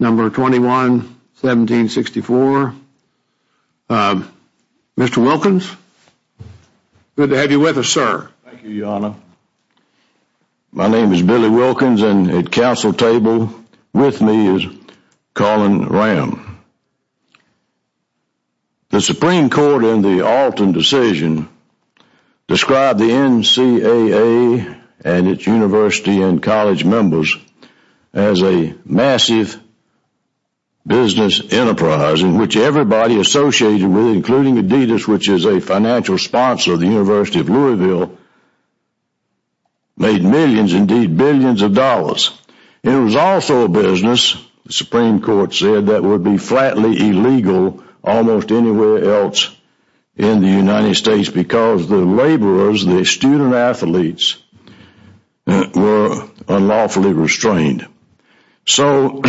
Number 21-1764. Mr. Wilkins, good to have you with us, sir. Thank you, Your Honor. My name is Billy Wilkins, and at council table with me is Colin Ram. The Supreme Court in the Alton decision described the NCAA and its university and college members as a massive business enterprise in which everybody associated with it, including Adidas, which is a financial sponsor of the University of Louisville, made millions, indeed billions of dollars. It was also a business, the Supreme Court said, that would be flatly illegal almost anywhere else in the United States because the laborers, the student athletes, were unlawfully restrained. So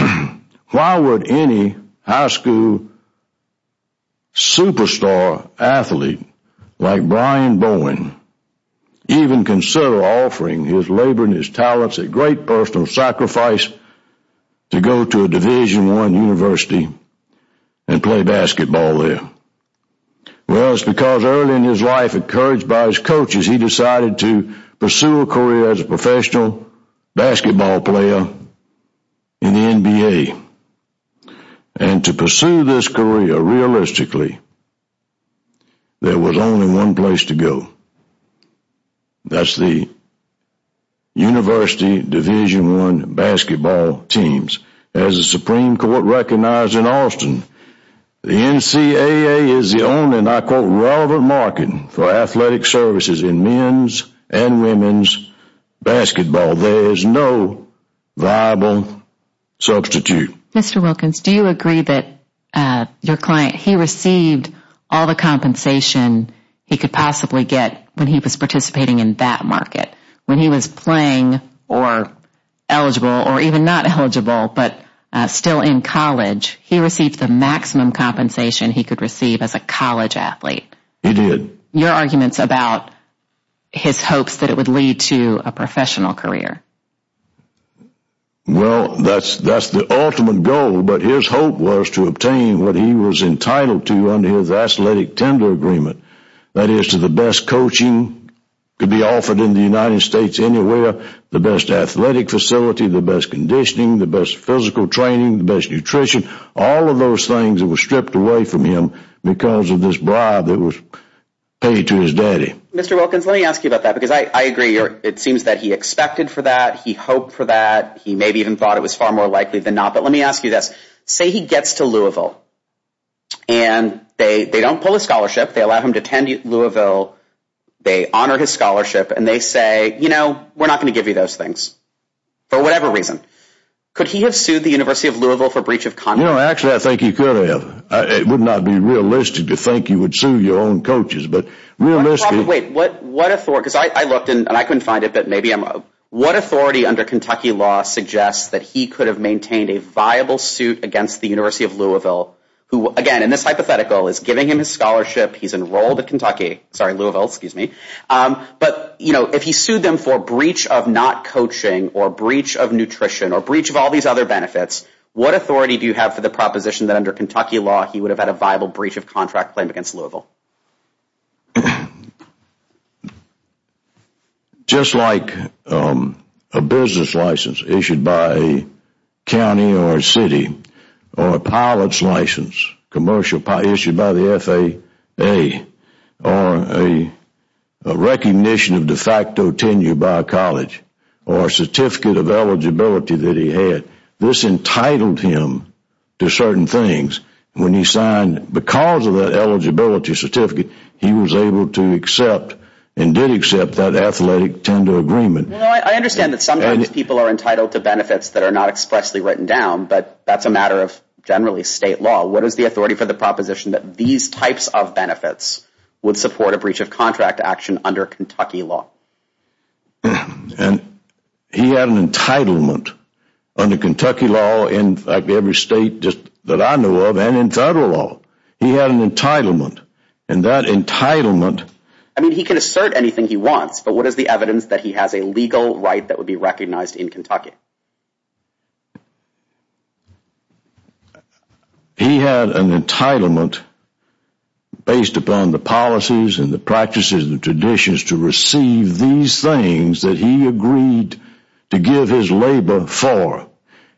why would any high school superstar athlete like Brian Bowen even consider offering his labor and his talents at great personal sacrifice to go to a Division I university and play basketball there? Well, it's because early in his life, encouraged by his coaches, he decided to pursue a career as a professional basketball player in the NBA. And to pursue this career realistically, there was only one place to go. That's the University Division I basketball teams. As the Supreme Court recognized in Austin, the NCAA is the only, and I quote, relevant market for athletic services in men's and women's basketball. There is no viable substitute. Mr. Wilkins, do you agree that your client, he received all the compensation he could possibly get when he was participating in that market? When he was playing, or eligible, or even not eligible, but still in college, he received the maximum compensation he could receive as a college athlete? He did. Your arguments about his hopes that it would lead to a professional career? Well, that's the ultimate goal, but his hope was to obtain what he was entitled to under his athletic tender agreement. That is to the best coaching could be offered in the United States anywhere, the best athletic facility, the best conditioning, the best physical training, the best nutrition, all of those things that were stripped away from him because of this bribe that was paid to his daddy. Mr. Wilkins, let me ask you about that, because I agree, it seems that he expected for that, he hoped for that, he maybe even thought it was far more likely than not, but let me ask you this. Say he gets to Louisville, and they don't pull a scholarship, they allow him to attend Louisville, they honor his scholarship, and they say, you know, we're not going to give you those things, for whatever reason. Could he have sued the University of Louisville for breach of contract? No, actually I think he could have. It would not be realistic to think he would sue your own coaches, but realistically... Wait, what authority, because I looked, and I couldn't find it, but maybe I'm... What authority under Kentucky law suggests that he could have maintained a viable suit against the University of Louisville, who, again, in this hypothetical, is giving him his scholarship, he's enrolled at Kentucky, sorry, Louisville, excuse me, but, you know, if he sued them for breach of not coaching or breach of nutrition or breach of all these other benefits, what authority do you have for the proposition that under Kentucky law he would have had a viable breach of contract claim against Louisville? Just like a business license issued by a county or a city, or a pilot's license, commercial pilot issued by the FAA, or a recognition of de facto tenure by a college, or a certificate of eligibility that he had, this entitled him to certain things. When he signed, because of that eligibility certificate, he was able to accept and did accept that athletic tender agreement. I understand that sometimes people are entitled to benefits that are not expressly written down, but that's a matter of, generally, state law. What is the authority for the proposition that these types of benefits would support a breach of contract action under Kentucky law? And he had an entitlement under Kentucky law, in fact, every state that I know of, and in federal law, he had an entitlement. And that entitlement... I mean, he can assert anything he wants, but what is the evidence that he has a legal right that would be recognized in Kentucky? He had an entitlement based upon the policies and the practices and the traditions to receive these things that he agreed to give his labor for.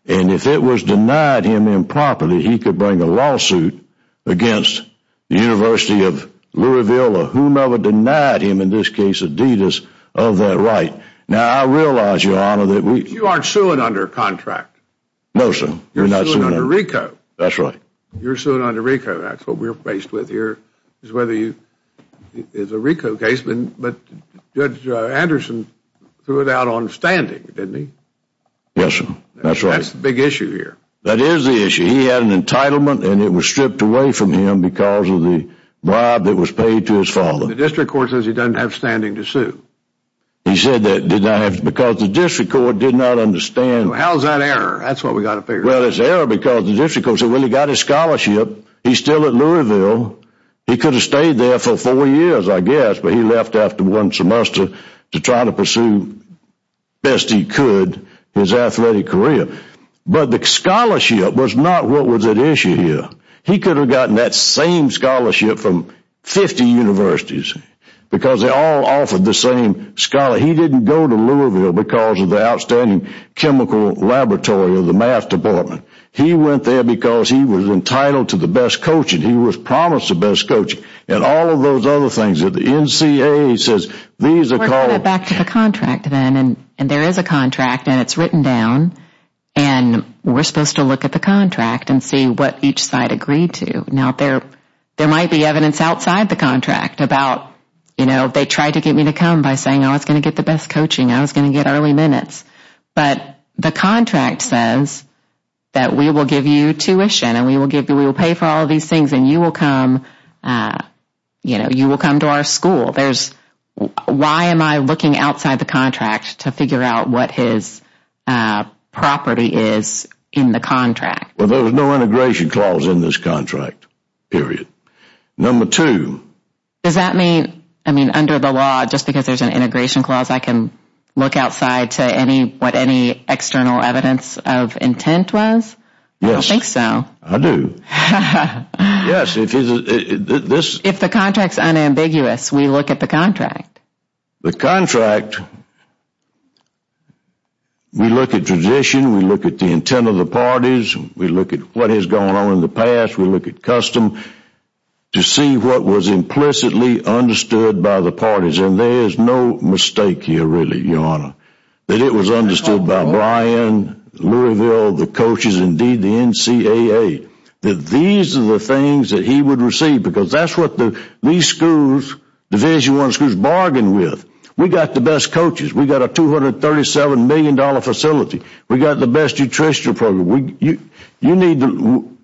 And if it was denied him improperly, he could bring a lawsuit against the University of Louisville or whomever denied him, in this case Adidas, of that right. Now, I realize, Your Honor, that we... You aren't suing under contract. No, sir. You're suing under RICO. That's right. You're suing under RICO. That's what we're faced with here, is whether you... It's a RICO case, but Judge Anderson threw it out on standing, didn't he? Yes, sir. That's right. That's the big issue here. That is the issue. He had an entitlement, and it was stripped away from him because of the bribe that was paid to his father. The district court says he doesn't have standing to sue. He said that because the district court did not understand... How is that an error? That's what we've got to figure out. Well, it's an error because the district court said, well, he got his scholarship. He's still at Louisville. He could have stayed there for four years, I guess, but he left after one semester to try to pursue, best he could, his athletic career. But the scholarship was not what was at issue here. He could have gotten that same scholarship from 50 universities because they all offered the same scholarship. He didn't go to Louisville because of the outstanding chemical laboratory of the math department. He went there because he was entitled to the best coaching. He was promised the best coaching and all of those other things. The NCAA says these are called... We're going back to the contract then, and there is a contract, and it's written down. We're supposed to look at the contract and see what each side agreed to. Now, there might be evidence outside the contract about they tried to get me to come by saying I was going to get the best coaching. I was going to get early minutes. But the contract says that we will give you tuition, and we will pay for all of these things, and you will come to our school. Why am I looking outside the contract to figure out what his property is in the contract? Well, there was no integration clause in this contract, period. Number two... Does that mean under the law, just because there's an integration clause, I can look outside to what any external evidence of intent was? Yes. I don't think so. I do. Yes. If the contract's unambiguous, we look at the contract. The contract... We look at tradition. We look at the intent of the parties. We look at what has gone on in the past. We look at custom to see what was implicitly understood by the parties. And there is no mistake here, really, Your Honor, that it was understood by Brian, Louisville, the coaches, indeed the NCAA, that these are the things that he would receive. Because that's what these schools, Division I schools, bargain with. We've got the best coaches. We've got a $237 million facility. We've got the best nutrition program. You need to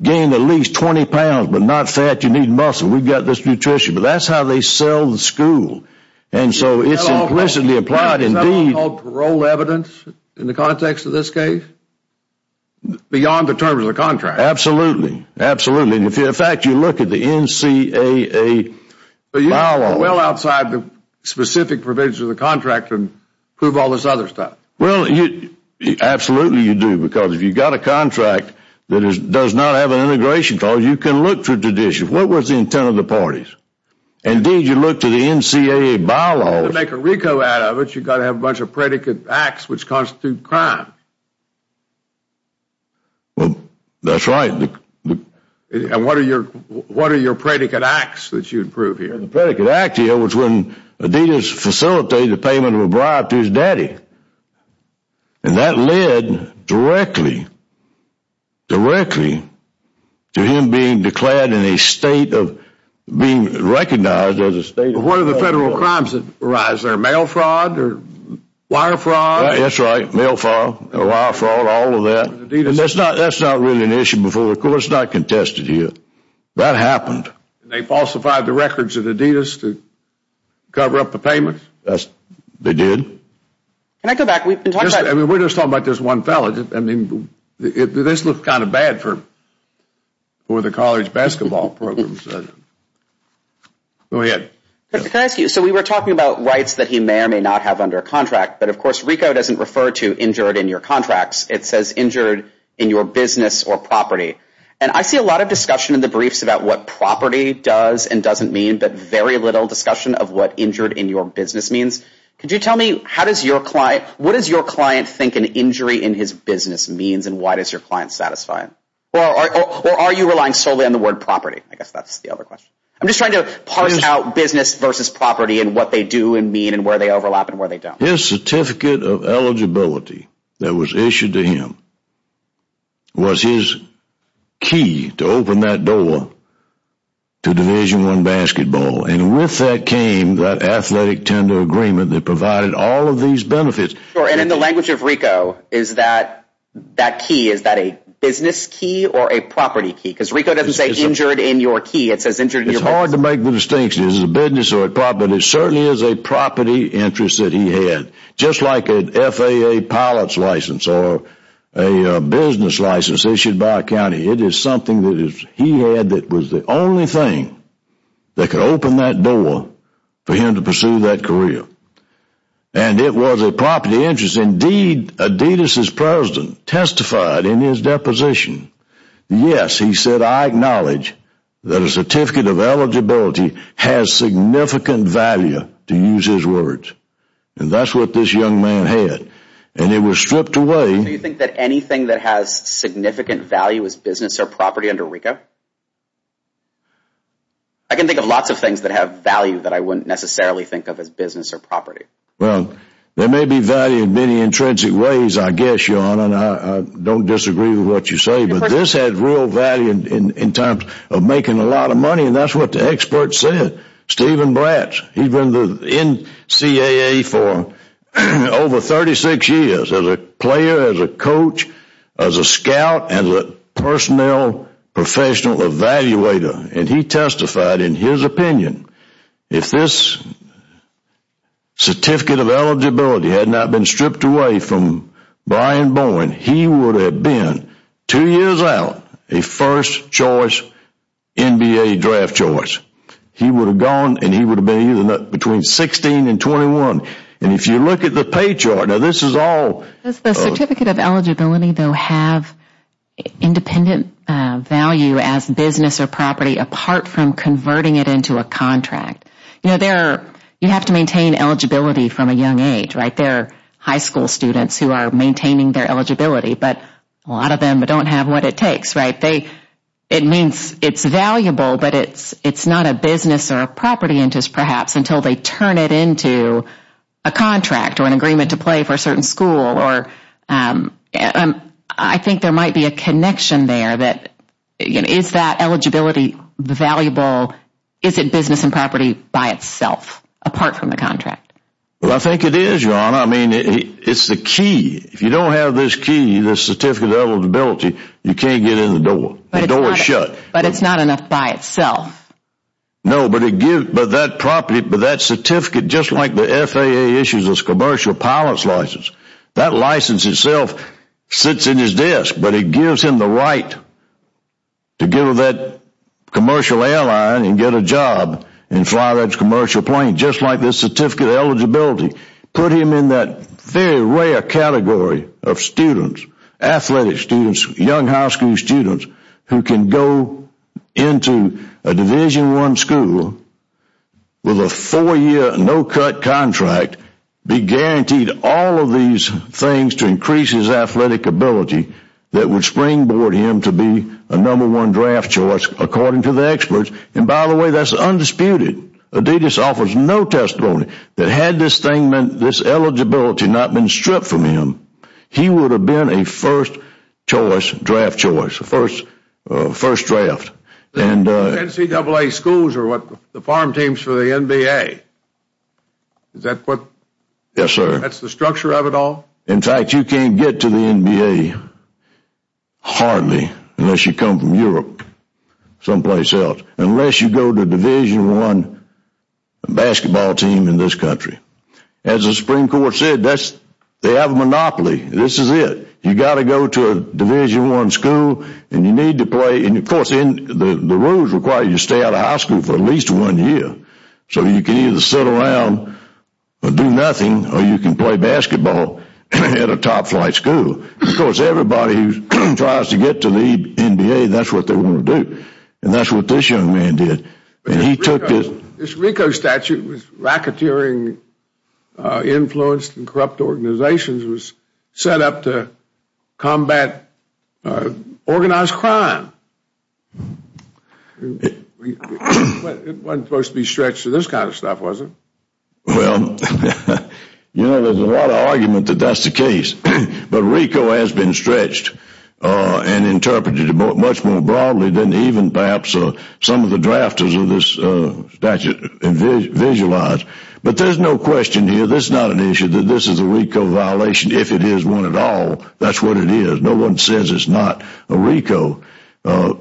gain at least 20 pounds, but not fat. You need muscle. We've got this nutrition. But that's how they sell the school. And so it's implicitly implied. Is there something called parole evidence in the context of this case, beyond the terms of the contract? Absolutely. Absolutely. In fact, if you look at the NCAA bylaws... But you go well outside the specific provisions of the contract and prove all this other stuff. Well, absolutely you do, because if you've got a contract that does not have an integration clause, you can look for tradition. What was the intent of the parties? Indeed, you look to the NCAA bylaws... You've got to have a bunch of predicate acts which constitute crime. Well, that's right. And what are your predicate acts that you'd prove here? The predicate act here was when Adidas facilitated the payment of a bribe to his daddy. And that led directly, directly to him being declared in a state of being recognized as a state... What are the federal crimes that arise there? Mail fraud? Wire fraud? That's right. Mail fraud. Wire fraud. All of that. And that's not really an issue before the court. It's not contested here. That happened. And they falsified the records of Adidas to cover up the payment? They did. Can I go back? We've been talking about... We're just talking about this one fellow. This looks kind of bad for the college basketball program. Go ahead. Can I ask you... So we were talking about rights that he may or may not have under a contract, but of course RICO doesn't refer to injured in your contracts. It says injured in your business or property. And I see a lot of discussion in the briefs about what property does and doesn't mean, but very little discussion of what injured in your business means. Could you tell me what does your client think an injury in his business means and why does your client satisfy it? Or are you relying solely on the word property? I guess that's the other question. I'm just trying to parse out business versus property and what they do and mean and where they overlap and where they don't. His certificate of eligibility that was issued to him was his key to open that door to Division I basketball. And with that came that athletic tender agreement that provided all of these benefits. And in the language of RICO, is that key, is that a business key or a property key? Because RICO doesn't say injured in your key. It says injured in your business. It's hard to make the distinction. Is it a business or a property? It certainly is a property interest that he had. Just like an FAA pilot's license or a business license issued by a county. It is something that he had that was the only thing that could open that door for him to pursue that career. And it was a property interest. Indeed, Adidas' president testified in his deposition. Yes, he said, I acknowledge that a certificate of eligibility has significant value, to use his words. And that's what this young man had. And it was stripped away. Do you think that anything that has significant value is business or property under RICO? I can think of lots of things that have value that I wouldn't necessarily think of as business or property. Well, there may be value in many intrinsic ways, I guess, Sean. And I don't disagree with what you say. But this had real value in terms of making a lot of money. And that's what the expert said, Stephen Bratz. He's been in the NCAA for over 36 years as a player, as a coach, as a scout, and a personnel professional evaluator. And he testified in his opinion. If this certificate of eligibility had not been stripped away from Brian Bowen, he would have been, two years out, a first-choice NBA draft choice. He would have gone and he would have been between 16 and 21. And if you look at the pay chart, now this is all. Does the certificate of eligibility, though, have independent value as business or property apart from converting it into a contract? You know, you have to maintain eligibility from a young age, right? There are high school students who are maintaining their eligibility. But a lot of them don't have what it takes, right? It means it's valuable, but it's not a business or a property interest, perhaps, until they turn it into a contract or an agreement to play for a certain school. I think there might be a connection there that is that eligibility valuable? Is it business and property by itself apart from the contract? Well, I think it is, Your Honor. I mean, it's the key. If you don't have this key, this certificate of eligibility, you can't get in the door. The door is shut. But it's not enough by itself. No, but that certificate, just like the FAA issues a commercial pilot's license, that license itself sits in his desk, but it gives him the right to go to that commercial airline and get a job and fly that commercial plane, just like this certificate of eligibility. Put him in that very rare category of students, athletic students, young high school students, who can go into a Division I school with a four-year, no-cut contract, be guaranteed all of these things to increase his athletic ability, that would springboard him to be a number one draft choice, according to the experts. And, by the way, that's undisputed. Adidas offers no testimony that had this eligibility not been stripped from him, he would have been a first choice, draft choice, first draft. NCAA schools are what the farm teams for the NBA. Is that what? Yes, sir. That's the structure of it all? In fact, you can't get to the NBA hardly unless you come from Europe, someplace else, unless you go to a Division I basketball team in this country. As the Supreme Court said, they have a monopoly. This is it. You've got to go to a Division I school, and you need to play. And, of course, the rules require you to stay out of high school for at least one year, so you can either sit around or do nothing, or you can play basketball at a top-flight school. Of course, everybody who tries to get to the NBA, that's what they want to do, and that's what this young man did. This RICO statute was racketeering, influenced and corrupt organizations, was set up to combat organized crime. It wasn't supposed to be stretched to this kind of stuff, was it? Well, you know, there's a lot of argument that that's the case, but RICO has been stretched and interpreted much more broadly than even perhaps some of the drafters of this statute visualize. But there's no question here, this is not an issue, that this is a RICO violation, if it is one at all, that's what it is. No one says it's not a RICO for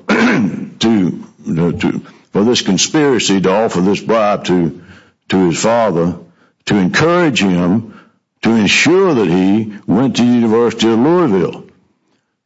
this conspiracy to offer this bribe to his father to encourage him to ensure that he went to the University of Louisville.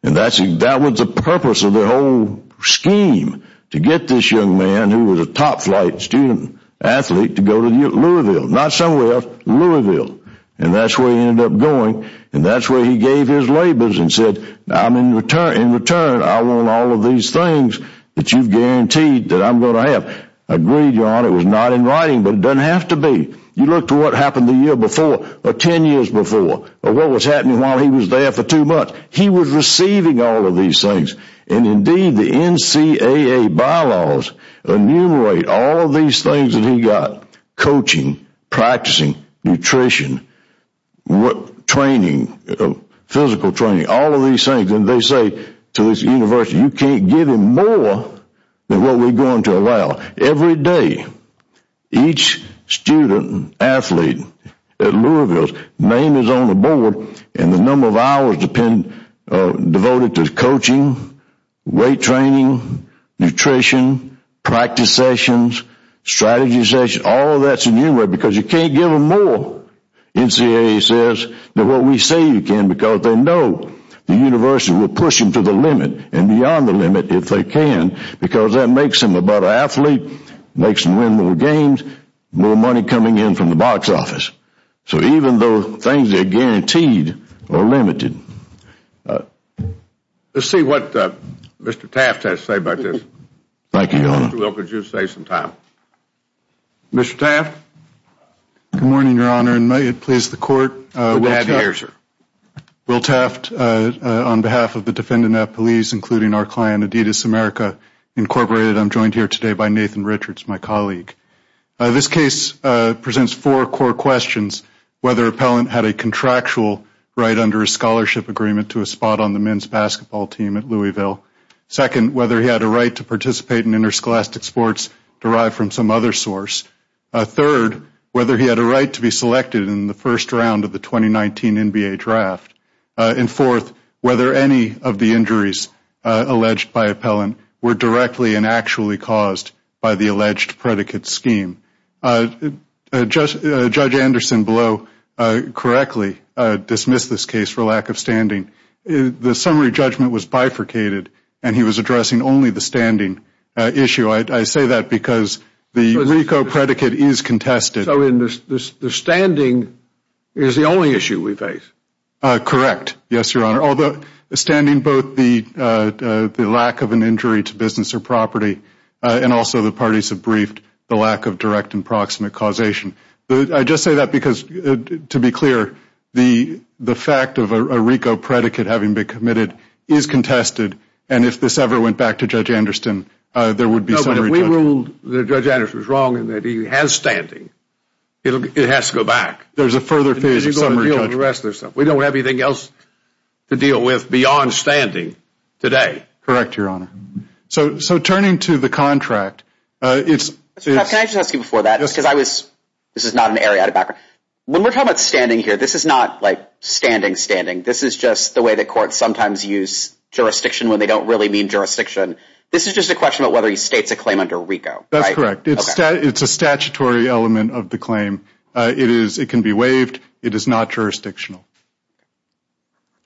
That was the purpose of the whole scheme, to get this young man, who was a top-flight student-athlete, to go to Louisville. Not somewhere else, Louisville. And that's where he ended up going, and that's where he gave his labors and said, in return, I want all of these things that you've guaranteed that I'm going to have. I agree, John, it was not in writing, but it doesn't have to be. You look to what happened the year before, or ten years before, or what was happening while he was there for two months. He was receiving all of these things. And indeed, the NCAA bylaws enumerate all of these things that he got. Coaching, practicing, nutrition, training, physical training, all of these things. And they say to this university, you can't give him more than what we're going to allow. Every day, each student-athlete at Louisville's name is on the board, and the number of hours devoted to coaching, weight training, nutrition, practice sessions, strategy sessions, all of that is enumerated, because you can't give them more. NCAA says that what we say you can, because they know the university will push them to the limit, and beyond the limit if they can, because that makes them a better athlete, makes them win more games, more money coming in from the box office. So even though things that are guaranteed are limited. Let's see what Mr. Taft has to say about this. Thank you, Your Honor. Mr. Wilk, would you say some time? Mr. Taft? Good morning, Your Honor, and may it please the Court. Good to have you here, sir. Will Taft, on behalf of the defendant at police, including our client, Adidas America, Incorporated. I'm joined here today by Nathan Richards, my colleague. This case presents four core questions, whether Appellant had a contractual right under a scholarship agreement to a spot on the men's basketball team at Louisville. Second, whether he had a right to participate in interscholastic sports derived from some other source. Third, whether he had a right to be selected in the first round of the 2019 NBA draft. And fourth, whether any of the injuries alleged by Appellant were directly and actually caused by the alleged predicate scheme. Judge Anderson, below, correctly dismissed this case for lack of standing. The summary judgment was bifurcated, and he was addressing only the standing issue. I say that because the RICO predicate is contested. So the standing is the only issue we face? Correct, yes, Your Honor, although standing both the lack of an injury to business or property and also the parties have briefed the lack of direct and proximate causation. I just say that because, to be clear, the fact of a RICO predicate having been committed is contested, and if this ever went back to Judge Anderson, there would be summary judgment. No, but if we ruled that Judge Anderson is wrong and that he has standing, it has to go back. There's a further phase of summary judgment. We don't have anything else to deal with beyond standing today. Correct, Your Honor. So turning to the contract, it's... Can I just ask you before that, because I was... this is not an area out of background. This is just the way that courts sometimes use jurisdiction when they don't really mean jurisdiction. This is just a question about whether he states a claim under RICO. That's correct. It's a statutory element of the claim. It can be waived. It is not jurisdictional.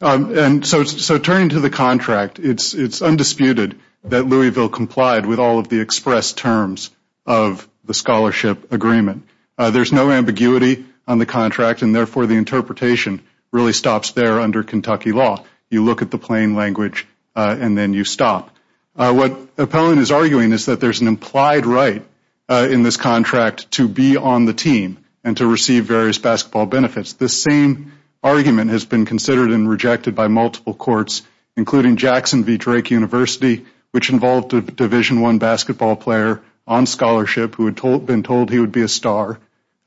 And so turning to the contract, it's undisputed that Louisville complied with all of the express terms of the scholarship agreement. There's no ambiguity on the contract, and therefore the interpretation really stops there under Kentucky law. You look at the plain language, and then you stop. What Appellant is arguing is that there's an implied right in this contract to be on the team and to receive various basketball benefits. This same argument has been considered and rejected by multiple courts, including Jackson v. Drake University, which involved a Division I basketball player on scholarship who had been told he would be a star,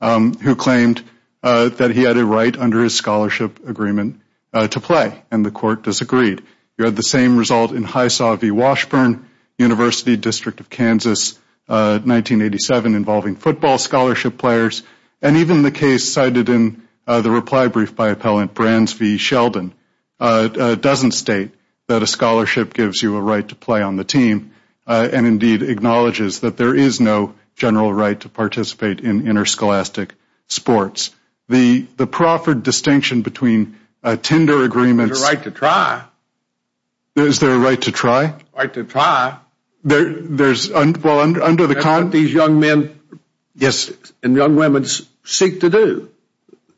who claimed that he had a right under his scholarship agreement to play, and the court disagreed. You had the same result in Hisaw v. Washburn, University District of Kansas, 1987, involving football scholarship players. And even the case cited in the reply brief by Appellant, Brands v. Sheldon, doesn't state that a scholarship gives you a right to play on the team and indeed acknowledges that there is no general right to participate in interscholastic sports. The proffered distinction between a tender agreement... There's a right to try. Is there a right to try? Right to try. There's... These young men and young women seek to do,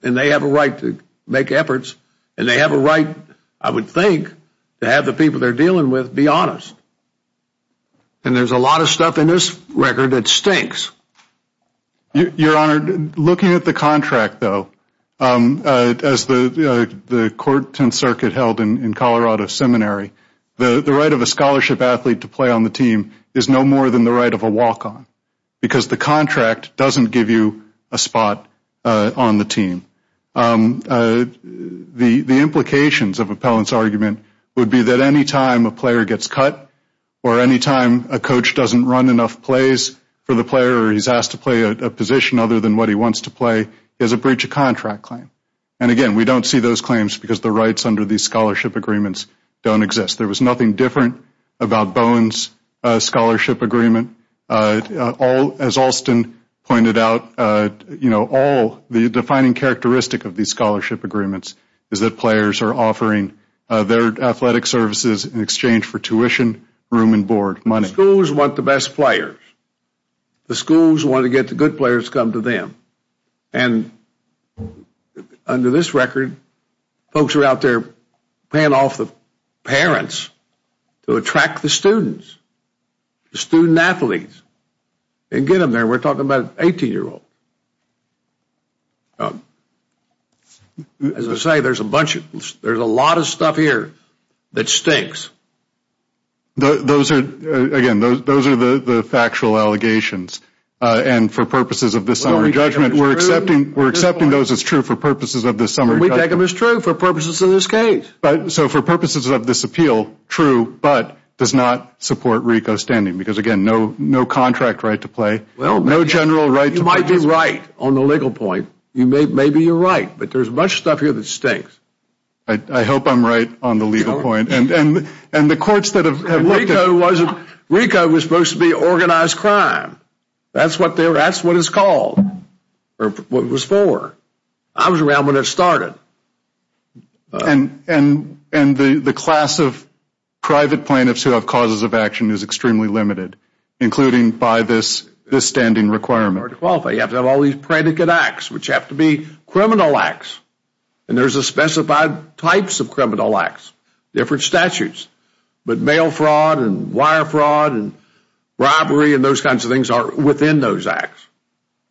and they have a right to make efforts, and they have a right, I would think, to have the people they're dealing with be honest. And there's a lot of stuff in this record that stinks. Your Honor, looking at the contract, though, as the court and circuit held in Colorado Seminary, the right of a scholarship athlete to play on the team is no more than the right of a walk-on because the contract doesn't give you a spot on the team. The implications of Appellant's argument would be that any time a player gets cut or any time a coach doesn't run enough plays for the player, or he's asked to play a position other than what he wants to play, there's a breach of contract claim. And again, we don't see those claims because the rights under these scholarship agreements don't exist. There was nothing different about Bowen's scholarship agreement. As Alston pointed out, the defining characteristic of these scholarship agreements is that players are offering their athletic services in exchange for tuition, room and board, money. Schools want the best players. The schools want to get the good players come to them. And under this record, folks are out there paying off the parents to attract the students, the student athletes, and get them there. We're talking about an 18-year-old. As I say, there's a lot of stuff here that stinks. Again, those are the factual allegations. And for purposes of this summary judgment, we're accepting those as true for purposes of this summary judgment. We take them as true for purposes of this case. So for purposes of this appeal, true, but does not support RICO standing. Because again, no contract right to play, no general right to play. You might be right on the legal point. Maybe you're right, but there's much stuff here that stinks. I hope I'm right on the legal point. RICO was supposed to be organized crime. That's what it's called, or what it was for. I was around when it started. And the class of private plaintiffs who have causes of action is extremely limited, including by this standing requirement. You have to have all these predicate acts, which have to be criminal acts. And there's a specified types of criminal acts, different statutes. But mail fraud and wire fraud and robbery and those kinds of things are within those acts.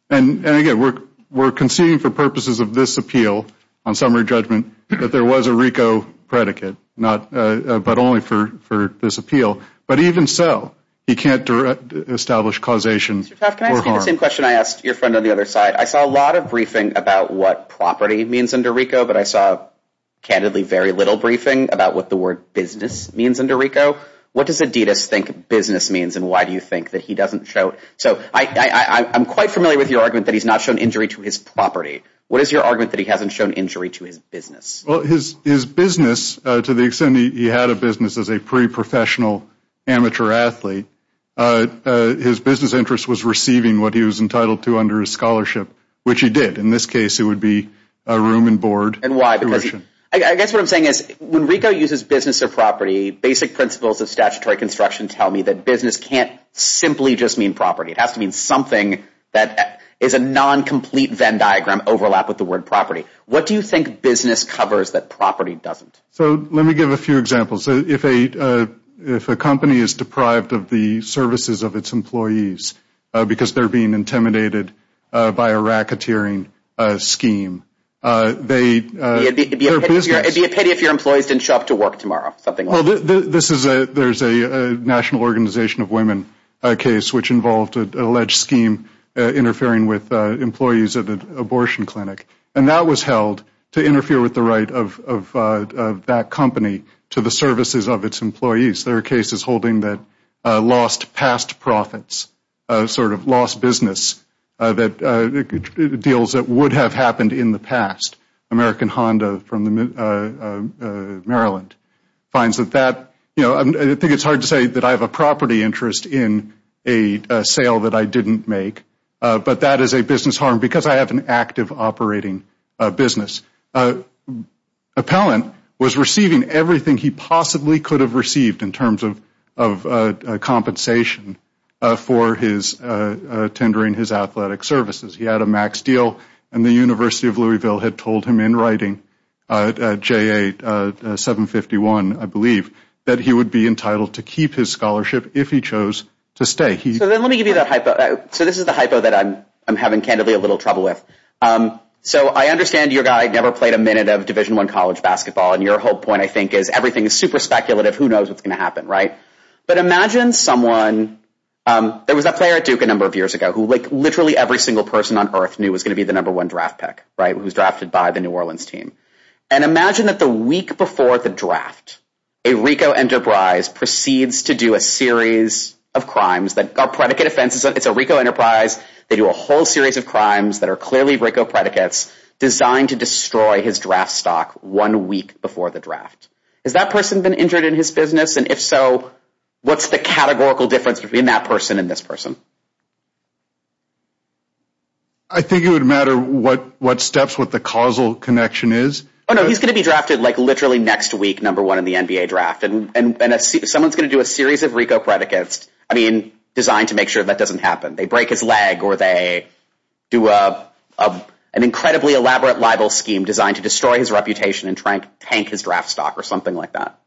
And again, we're conceding for purposes of this appeal on summary judgment that there was a RICO predicate, but only for this appeal. But even so, you can't establish causation for harm. Mr. Taft, can I ask you the same question I asked your friend on the other side? I saw a lot of briefing about what property means under RICO, but I saw, candidly, very little briefing about what the word business means under RICO. What does Adidas think business means, and why do you think that he doesn't show it? So I'm quite familiar with your argument that he's not shown injury to his property. What is your argument that he hasn't shown injury to his business? Well, his business, to the extent that he had a business as a pre-professional amateur athlete, his business interest was receiving what he was entitled to under his scholarship, which he did. In this case, it would be a room and board tuition. And why? Because I guess what I'm saying is when RICO uses business or property, basic principles of statutory construction tell me that business can't simply just mean property. It has to mean something that is a non-complete Venn diagram overlap with the word property. What do you think business covers that property doesn't? So let me give a few examples. If a company is deprived of the services of its employees because they're being intimidated by a racketeering scheme, it would be a pity if your employees didn't show up to work tomorrow, something like that. Well, there's a national organization of women case which involved an alleged scheme interfering with employees at an abortion clinic. And that was held to interfere with the right of that company to the services of its employees. There are cases holding that lost past profits, sort of lost business, deals that would have happened in the past. American Honda from Maryland finds that that, you know, I think it's hard to say that I have a property interest in a sale that I didn't make, but that is a business harm because I have an active operating business. Appellant was receiving everything he possibly could have received in terms of compensation for his tendering his athletic services. He had a max deal, and the University of Louisville had told him in writing, J.A. 751, I believe, that he would be entitled to keep his scholarship if he chose to stay. So then let me give you that hypo. So this is the hypo that I'm having candidly a little trouble with. So I understand your guy never played a minute of Division One college basketball. And your whole point, I think, is everything is super speculative. Who knows what's going to happen? Right. But imagine someone. There was a player at Duke a number of years ago who like literally every single person on Earth knew was going to be the number one draft pick. Right. Who's drafted by the New Orleans team. And imagine that the week before the draft, a Rico enterprise proceeds to do a series of crimes that are predicate offenses. It's a Rico enterprise. They do a whole series of crimes that are clearly Rico predicates designed to destroy his draft stock one week before the draft. Has that person been injured in his business? And if so, what's the categorical difference between that person and this person? I think it would matter what what steps with the causal connection is. Oh, no, he's going to be drafted like literally next week, number one in the NBA draft. And someone's going to do a series of Rico predicates, I mean, designed to make sure that doesn't happen. They break his leg or they do an incredibly elaborate libel scheme designed to destroy his reputation and try and tank his draft stock or something like that.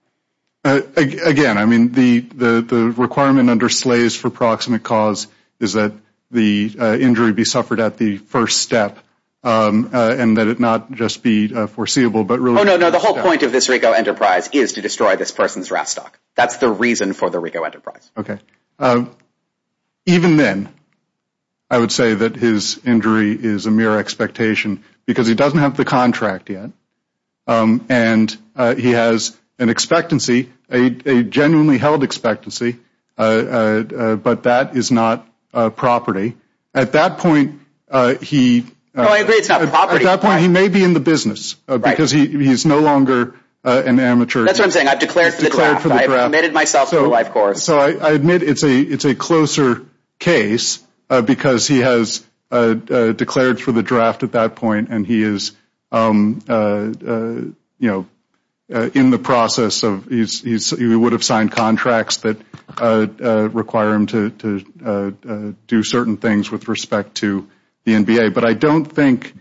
Again, I mean, the requirement under Slays for Proximate Cause is that the injury be suffered at the first step and that it not just be foreseeable, but really. Oh, no, no. The whole point of this Rico enterprise is to destroy this person's draft stock. That's the reason for the Rico enterprise. OK. Even then, I would say that his injury is a mere expectation because he doesn't have the contract yet. And he has an expectancy, a genuinely held expectancy. But that is not a property at that point. He agreed to that point. He may be in the business because he is no longer an amateur. That's what I'm saying. I've declared that I've committed myself to the life course. So I admit it's a it's a closer case because he has declared for the draft at that point. And he is, you know, in the process of he would have signed contracts that require him to do certain things with respect to the NBA. But I don't think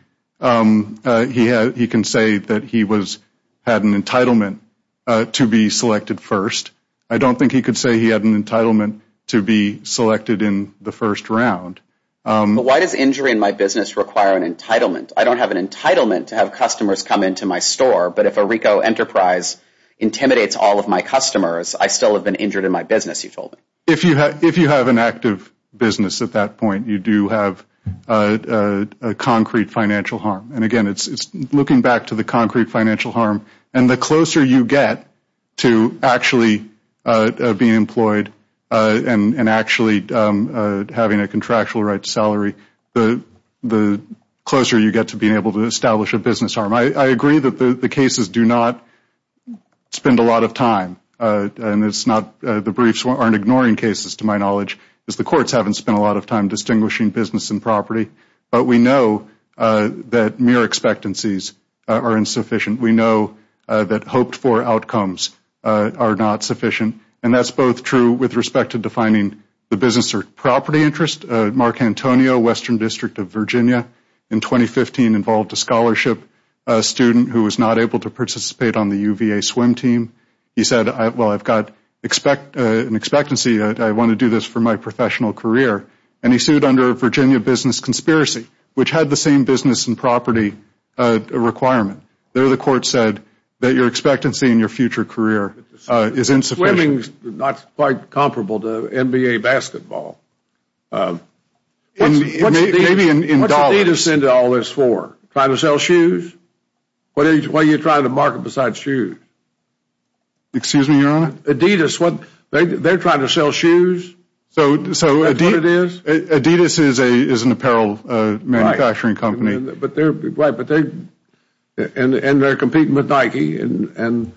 he he can say that he was had an entitlement to be selected first. I don't think he could say he had an entitlement to be selected in the first round. But why does injury in my business require an entitlement? I don't have an entitlement to have customers come into my store. But if a Rico enterprise intimidates all of my customers, I still have been injured in my business. You told me if you had if you have an active business at that point, you do have a concrete financial harm. And again, it's looking back to the concrete financial harm. And the closer you get to actually being employed and actually having a contractual right to salary, the the closer you get to being able to establish a business arm. I agree that the cases do not spend a lot of time. And it's not the briefs aren't ignoring cases, to my knowledge, because the courts haven't spent a lot of time distinguishing business and property. But we know that mere expectancies are insufficient. We know that hoped for outcomes are not sufficient. And that's both true with respect to defining the business or property interest. Mark Antonio, Western District of Virginia, in 2015 involved a scholarship student who was not able to participate on the UVA swim team. He said, well, I've got an expectancy. I want to do this for my professional career. And he sued under Virginia business conspiracy, which had the same business and property requirement. There, the court said that your expectancy in your future career is insufficient. Swimming's not quite comparable to NBA basketball. Maybe in dollars. What's Adidas into all this for? Trying to sell shoes? Why are you trying to market besides shoes? Excuse me, Your Honor? Adidas, they're trying to sell shoes? So Adidas is an apparel manufacturing company. And they're competing with Nike. And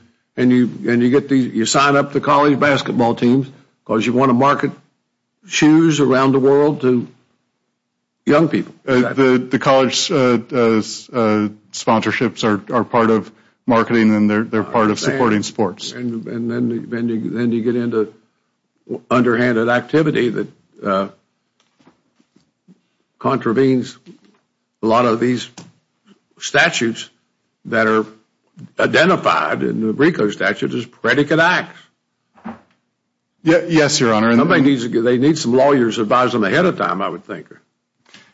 you sign up the college basketball teams because you want to market shoes around the world to young people. The college sponsorships are part of marketing and they're part of supporting sports. And then you get into underhanded activity that contravenes a lot of these statutes that are identified in the Brico statute as predicate acts. Yes, Your Honor. They need some lawyers to advise them ahead of time, I would think.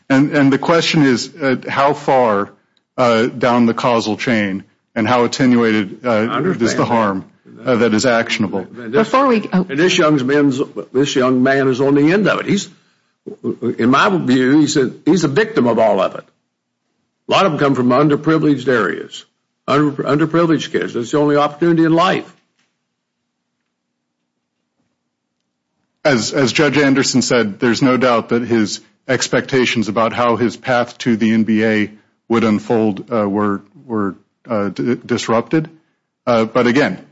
And the question is how far down the causal chain and how attenuated is the harm that is actionable? This young man is on the end of it. In my view, he's a victim of all of it. A lot of them come from underprivileged areas, underprivileged kids. It's the only opportunity in life. As Judge Anderson said, there's no doubt that his expectations about how his path to the NBA would unfold were disrupted. But, again,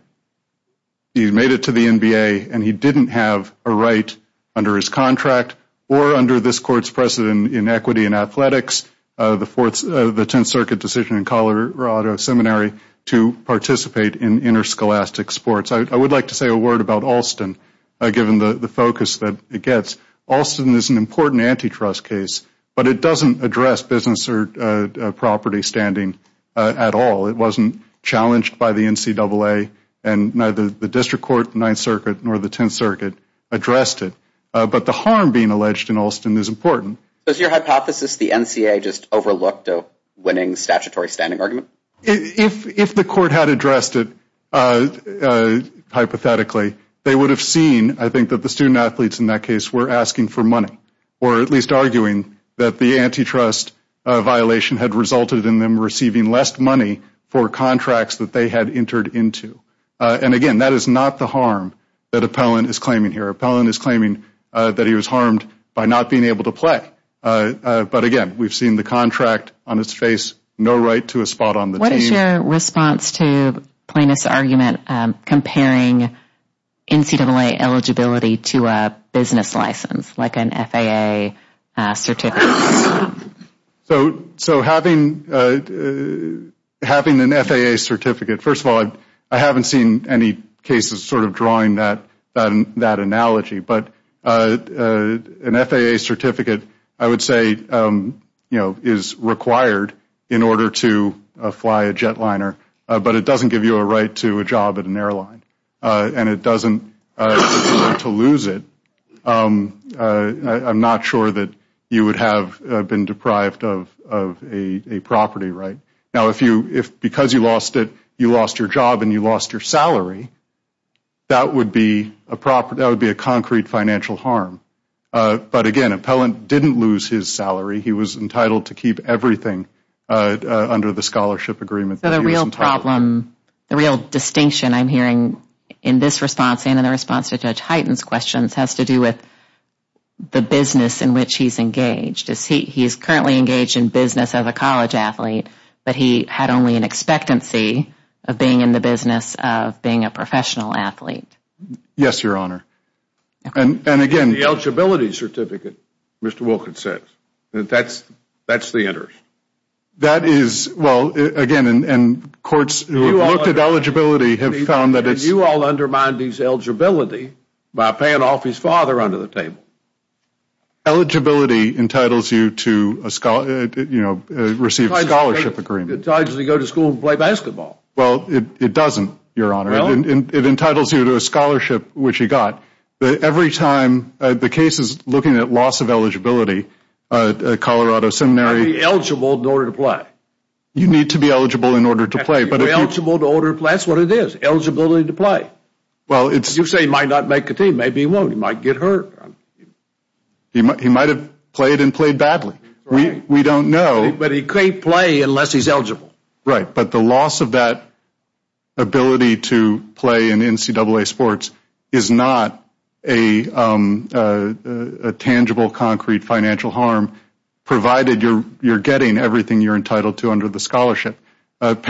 he made it to the NBA and he didn't have a right under his contract or under this court's precedent in equity and athletics, the Tenth Circuit decision in Colorado Seminary, to participate in interscholastic sports. I would like to say a word about Alston, given the focus that it gets. Alston is an important antitrust case, but it doesn't address business or property standing at all. It wasn't challenged by the NCAA, and neither the District Court, the Ninth Circuit, nor the Tenth Circuit addressed it. But the harm being alleged in Alston is important. Does your hypothesis the NCAA just overlooked a winning statutory standing argument? If the court had addressed it hypothetically, they would have seen, I think, that the student-athletes in that case were asking for money, or at least arguing that the antitrust violation had resulted in them receiving less money for contracts that they had entered into. And, again, that is not the harm that Appellant is claiming here. Appellant is claiming that he was harmed by not being able to play. But, again, we have seen the contract on its face, no right to a spot on the team. What is your response to Plaintiff's argument comparing NCAA eligibility to a business license, like an FAA certificate? So having an FAA certificate, first of all, I haven't seen any cases sort of drawing that analogy. But an FAA certificate, I would say, you know, is required in order to fly a jetliner, but it doesn't give you a right to a job at an airline, and it doesn't allow you to lose it. I'm not sure that you would have been deprived of a property right. Now, if because you lost it, you lost your job and you lost your salary, that would be a concrete financial harm. But, again, Appellant didn't lose his salary. He was entitled to keep everything under the scholarship agreement that he was entitled to. So the real problem, the real distinction I'm hearing in this response and in the response to Judge Hyten's questions has to do with the business in which he's engaged. He's currently engaged in business as a college athlete, but he had only an expectancy of being in the business of being a professional athlete. Yes, Your Honor. And, again... The eligibility certificate, Mr. Wilkins said. That's the interest. That is, well, again, and courts who have looked at eligibility have found that it's... And you all undermine these eligibility by paying off his father under the table. Eligibility entitles you to receive a scholarship agreement. It entitles you to go to school and play basketball. Well, it doesn't, Your Honor. It entitles you to a scholarship, which you got. Every time the case is looking at loss of eligibility, Colorado Seminary... I'm eligible in order to play. You need to be eligible in order to play, but if you... I'm eligible in order to play. That's what it is, eligibility to play. Well, it's... You say he might not make the team. Maybe he won't. He might get hurt. He might have played and played badly. We don't know. But he can't play unless he's eligible. Right, but the loss of that ability to play in NCAA sports is not a tangible, concrete financial harm, provided you're getting everything you're entitled to under the scholarship. Robert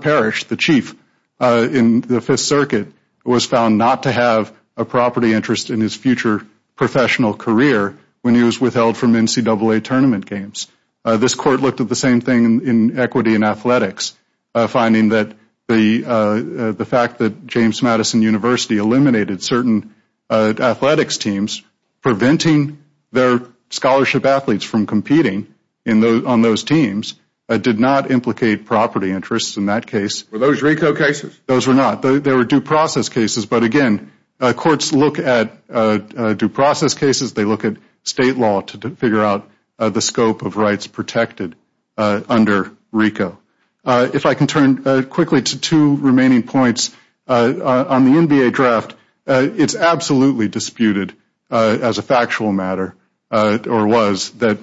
Parrish, the chief in the Fifth Circuit, was found not to have a property interest in his future professional career when he was withheld from NCAA tournament games. This court looked at the same thing in equity and athletics, finding that the fact that James Madison University eliminated certain athletics teams, preventing their scholarship athletes from competing on those teams, did not implicate property interests in that case. Were those RICO cases? Those were not. They were due process cases. But again, courts look at due process cases. They look at state law to figure out the scope of rights protected under RICO. If I can turn quickly to two remaining points. On the NBA draft, it's absolutely disputed as a factual matter, or was, that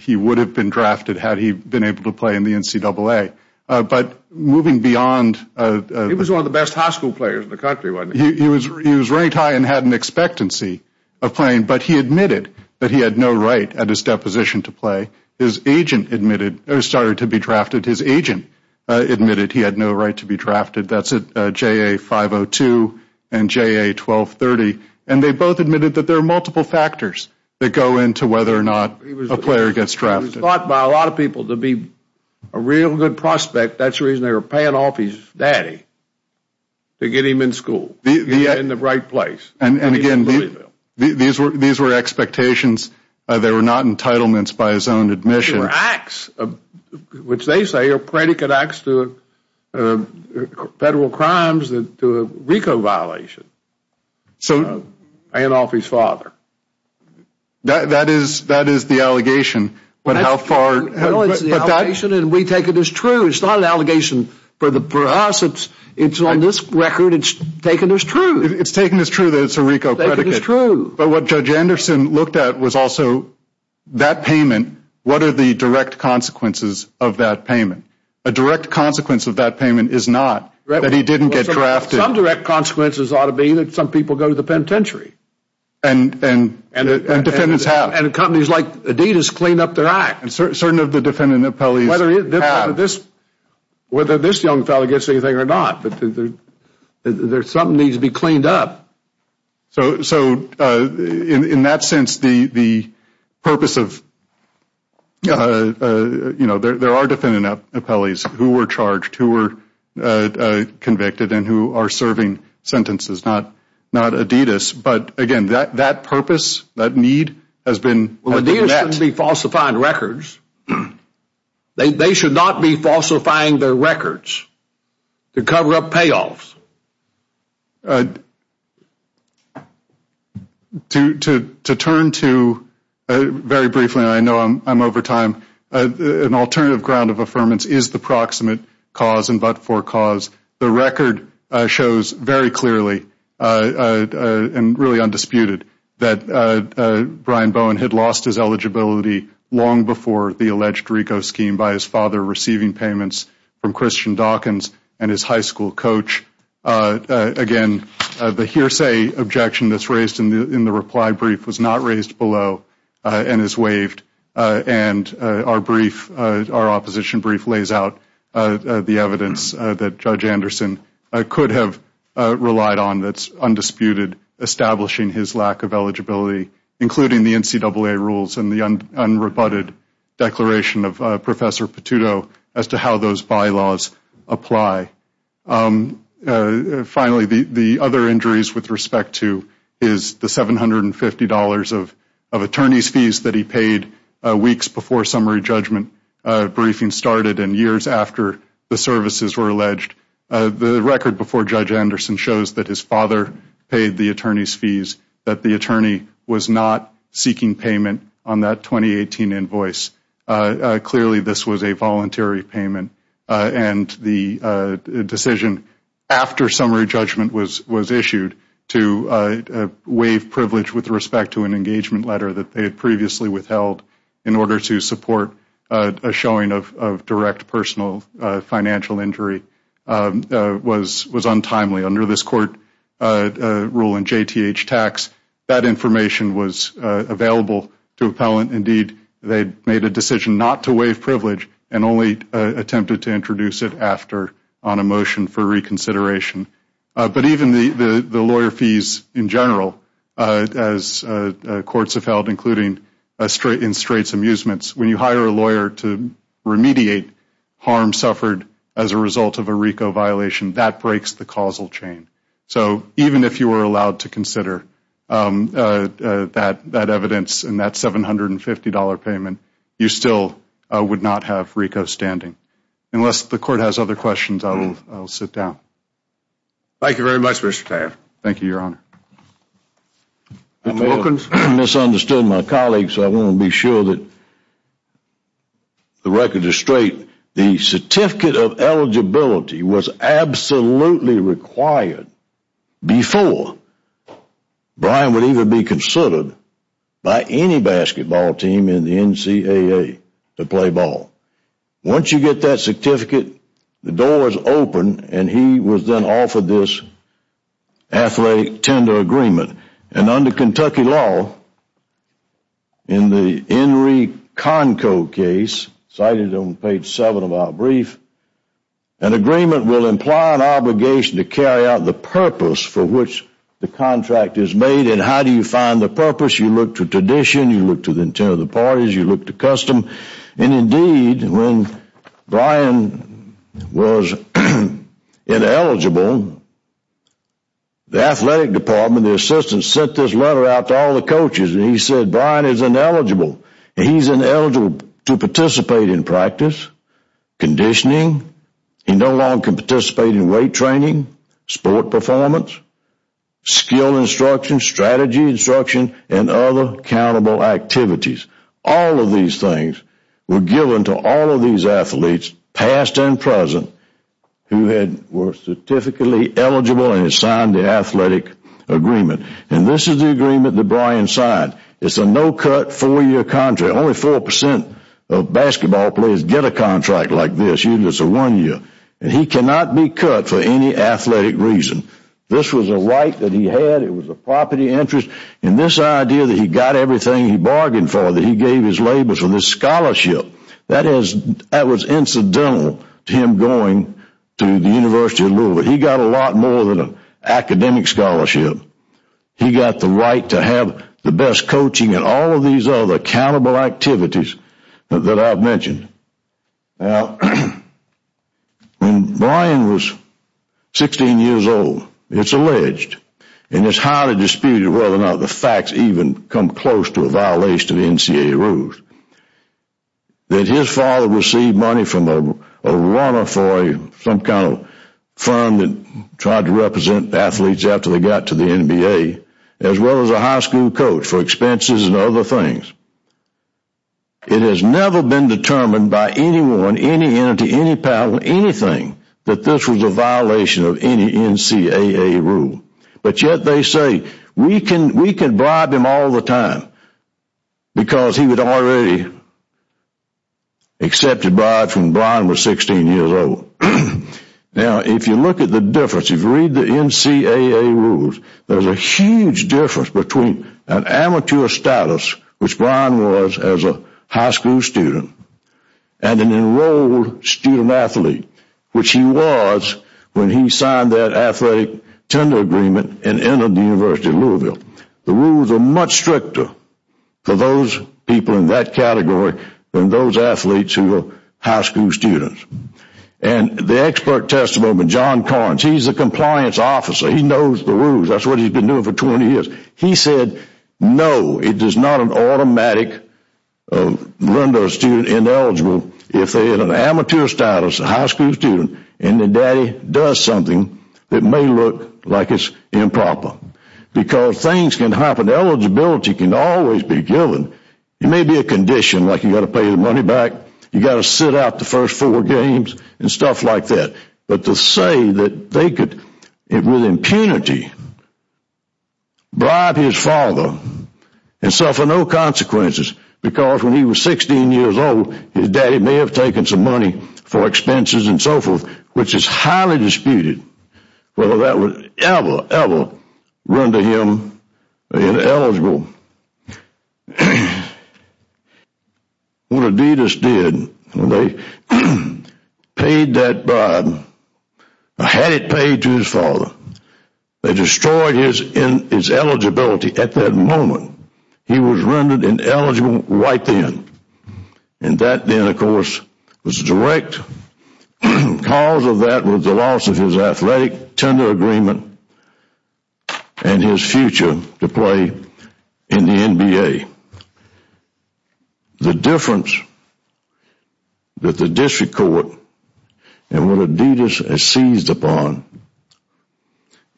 he would have been drafted had he been able to play in the NCAA. But moving beyond... He was one of the best high school players in the country, wasn't he? He was ranked high and had an expectancy of playing, but he admitted that he had no right at his deposition to play. His agent admitted, or started to be drafted, his agent admitted he had no right to be drafted. That's at JA 502 and JA 1230. And they both admitted that there are multiple factors that go into whether or not a player gets drafted. He was thought by a lot of people to be a real good prospect. That's the reason they were paying off his daddy to get him in school, get him in the right place. And again, these were expectations. They were not entitlements by his own admission. They were acts, which they say are predicate acts to federal crimes to a RICO violation. Paying off his father. That is the allegation, but how far... No, it's the allegation, and we take it as true. It's not an allegation for us. It's on this record. It's taken as true. It's taken as true that it's a RICO predicate. It's taken as true. But what Judge Anderson looked at was also that payment, what are the direct consequences of that payment? A direct consequence of that payment is not that he didn't get drafted. Some direct consequences ought to be that some people go to the penitentiary. And defendants have. And companies like Adidas clean up their act. Certain of the defendant appellees have. Whether this young fellow gets anything or not, there's something that needs to be cleaned up. So in that sense, the purpose of... There are defendant appellees who were charged, who were convicted, and who are serving sentences, not Adidas. But, again, that purpose, that need has been met. Well, Adidas shouldn't be falsifying records. They should not be falsifying their records to cover up payoffs. To turn to, very briefly, and I know I'm over time, an alternative ground of affirmance is the proximate cause and but-for cause. The record shows very clearly, and really undisputed, that Brian Bowen had lost his eligibility long before the alleged RICO scheme by his father receiving payments from Christian Dawkins and his high school coach. Again, the hearsay objection that's raised in the reply brief was not raised below and is waived, and our opposition brief lays out the evidence that Judge Anderson could have relied on that's undisputed, establishing his lack of eligibility, including the NCAA rules and the unrebutted declaration of Professor Petuto as to how those bylaws apply. Finally, the other injuries with respect to is the $750 of attorney's fees that he paid weeks before summary judgment briefing started and years after the services were alleged. The record before Judge Anderson shows that his father paid the attorney's fees, that the attorney was not seeking payment on that 2018 invoice. Clearly, this was a voluntary payment, and the decision after summary judgment was issued to waive privilege with respect to an engagement letter that they had previously withheld in order to support a showing of direct personal financial injury was untimely. Under this court rule in JTH tax, that information was available to appellant. Indeed, they made a decision not to waive privilege and only attempted to introduce it after on a motion for reconsideration. But even the lawyer fees in general, as courts have held, including in straights amusements, when you hire a lawyer to remediate harm suffered as a result of a RICO violation, that breaks the causal chain. So even if you were allowed to consider that evidence and that $750 payment, you still would not have RICO standing. Unless the court has other questions, I will sit down. Thank you very much, Mr. Taff. Thank you, Your Honor. I misunderstood my colleagues, so I want to be sure that the record is straight. The certificate of eligibility was absolutely required before Brian would even be considered by any basketball team in the NCAA to play ball. Once you get that certificate, the door is open, and he was then offered this athletic tender agreement. And under Kentucky law, in the Henry Conco case, cited on page 7 of our brief, an agreement will imply an obligation to carry out the purpose for which the contract is made. And how do you find the purpose? You look to tradition, you look to the intent of the parties, you look to custom. And indeed, when Brian was ineligible, the athletic department, the assistant, sent this letter out to all the coaches, and he said, Brian is ineligible. He is ineligible to participate in practice, conditioning, he no longer can participate in weight training, sport performance, skill instruction, strategy instruction, and other accountable activities. All of these things were given to all of these athletes, past and present, who were certificately eligible and had signed the athletic agreement. And this is the agreement that Brian signed. It's a no-cut, four-year contract. Only 4% of basketball players get a contract like this, usually it's a one-year. And he cannot be cut for any athletic reason. This was a right that he had, it was a property interest, and this idea that he got everything he bargained for, that he gave his labels for this scholarship, that was incidental to him going to the University of Louisville. He got a lot more than an academic scholarship. He got the right to have the best coaching and all of these other accountable activities that I've mentioned. Now, when Brian was 16 years old, it's alleged, and it's highly disputed whether or not the facts even come close to a violation of NCAA rules, that his father received money from a runner for some kind of fund that tried to represent athletes after they got to the NBA, as well as a high school coach for expenses and other things. It has never been determined by anyone, any entity, any power, anything, that this was a violation of any NCAA rule. But yet they say, we can bribe him all the time, because he had already accepted bribes when Brian was 16 years old. Now, if you look at the difference, if you read the NCAA rules, there's a huge difference between an amateur status, which Brian was as a high school student, and an enrolled student-athlete, which he was when he signed that athletic tender agreement and entered the University of Louisville. The rules are much stricter for those people in that category than those athletes who were high school students. And the expert testimony, John Corns, he's a compliance officer. He knows the rules. That's what he's been doing for 20 years. He said, no, it is not an automatic run to a student ineligible if they're in an amateur status, a high school student, and their daddy does something that may look like it's improper. Because things can happen. Eligibility can always be given. It may be a condition, like you've got to pay the money back, you've got to sit out the first four games, and stuff like that. But to say that they could, with impunity, bribe his father and suffer no consequences, because when he was 16 years old, his daddy may have taken some money for expenses and so forth, which is highly disputed whether that would ever, ever run to him ineligible. What Adidas did, they paid that bribe, or had it paid to his father. They destroyed his eligibility at that moment. He was rendered ineligible right then. And that then, of course, was direct. The cause of that was the loss of his athletic tender agreement and his future to play in the NBA. The difference that the district court and what Adidas has seized upon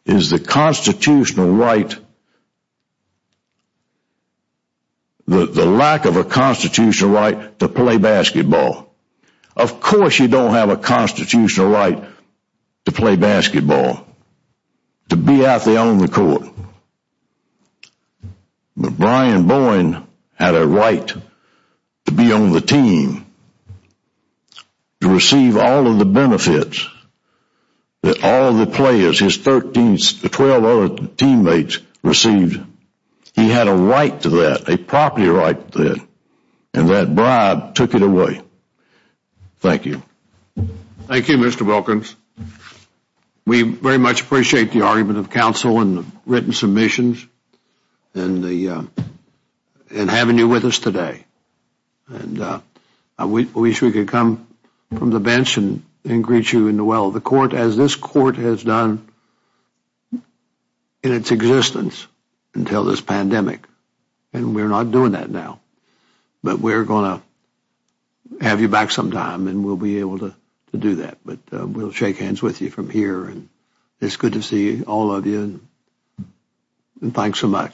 is the constitutional right, the lack of a constitutional right to play basketball. Of course you don't have a constitutional right to play basketball, to be out there on the court. But Brian Bowen had a right to be on the team, to receive all of the benefits that all of the players, his 12 other teammates received. He had a right to that, a property right to that. And that bribe took it away. Thank you. Thank you, Mr. Wilkins. We very much appreciate the argument of counsel and the written submissions and having you with us today. I wish we could come from the bench and greet you in the well. The court as this court has done in its existence until this pandemic. And we're not doing that now. But we're going to have you back sometime and we'll be able to do that. But we'll shake hands with you from here and it's good to see all of you. And thanks so much.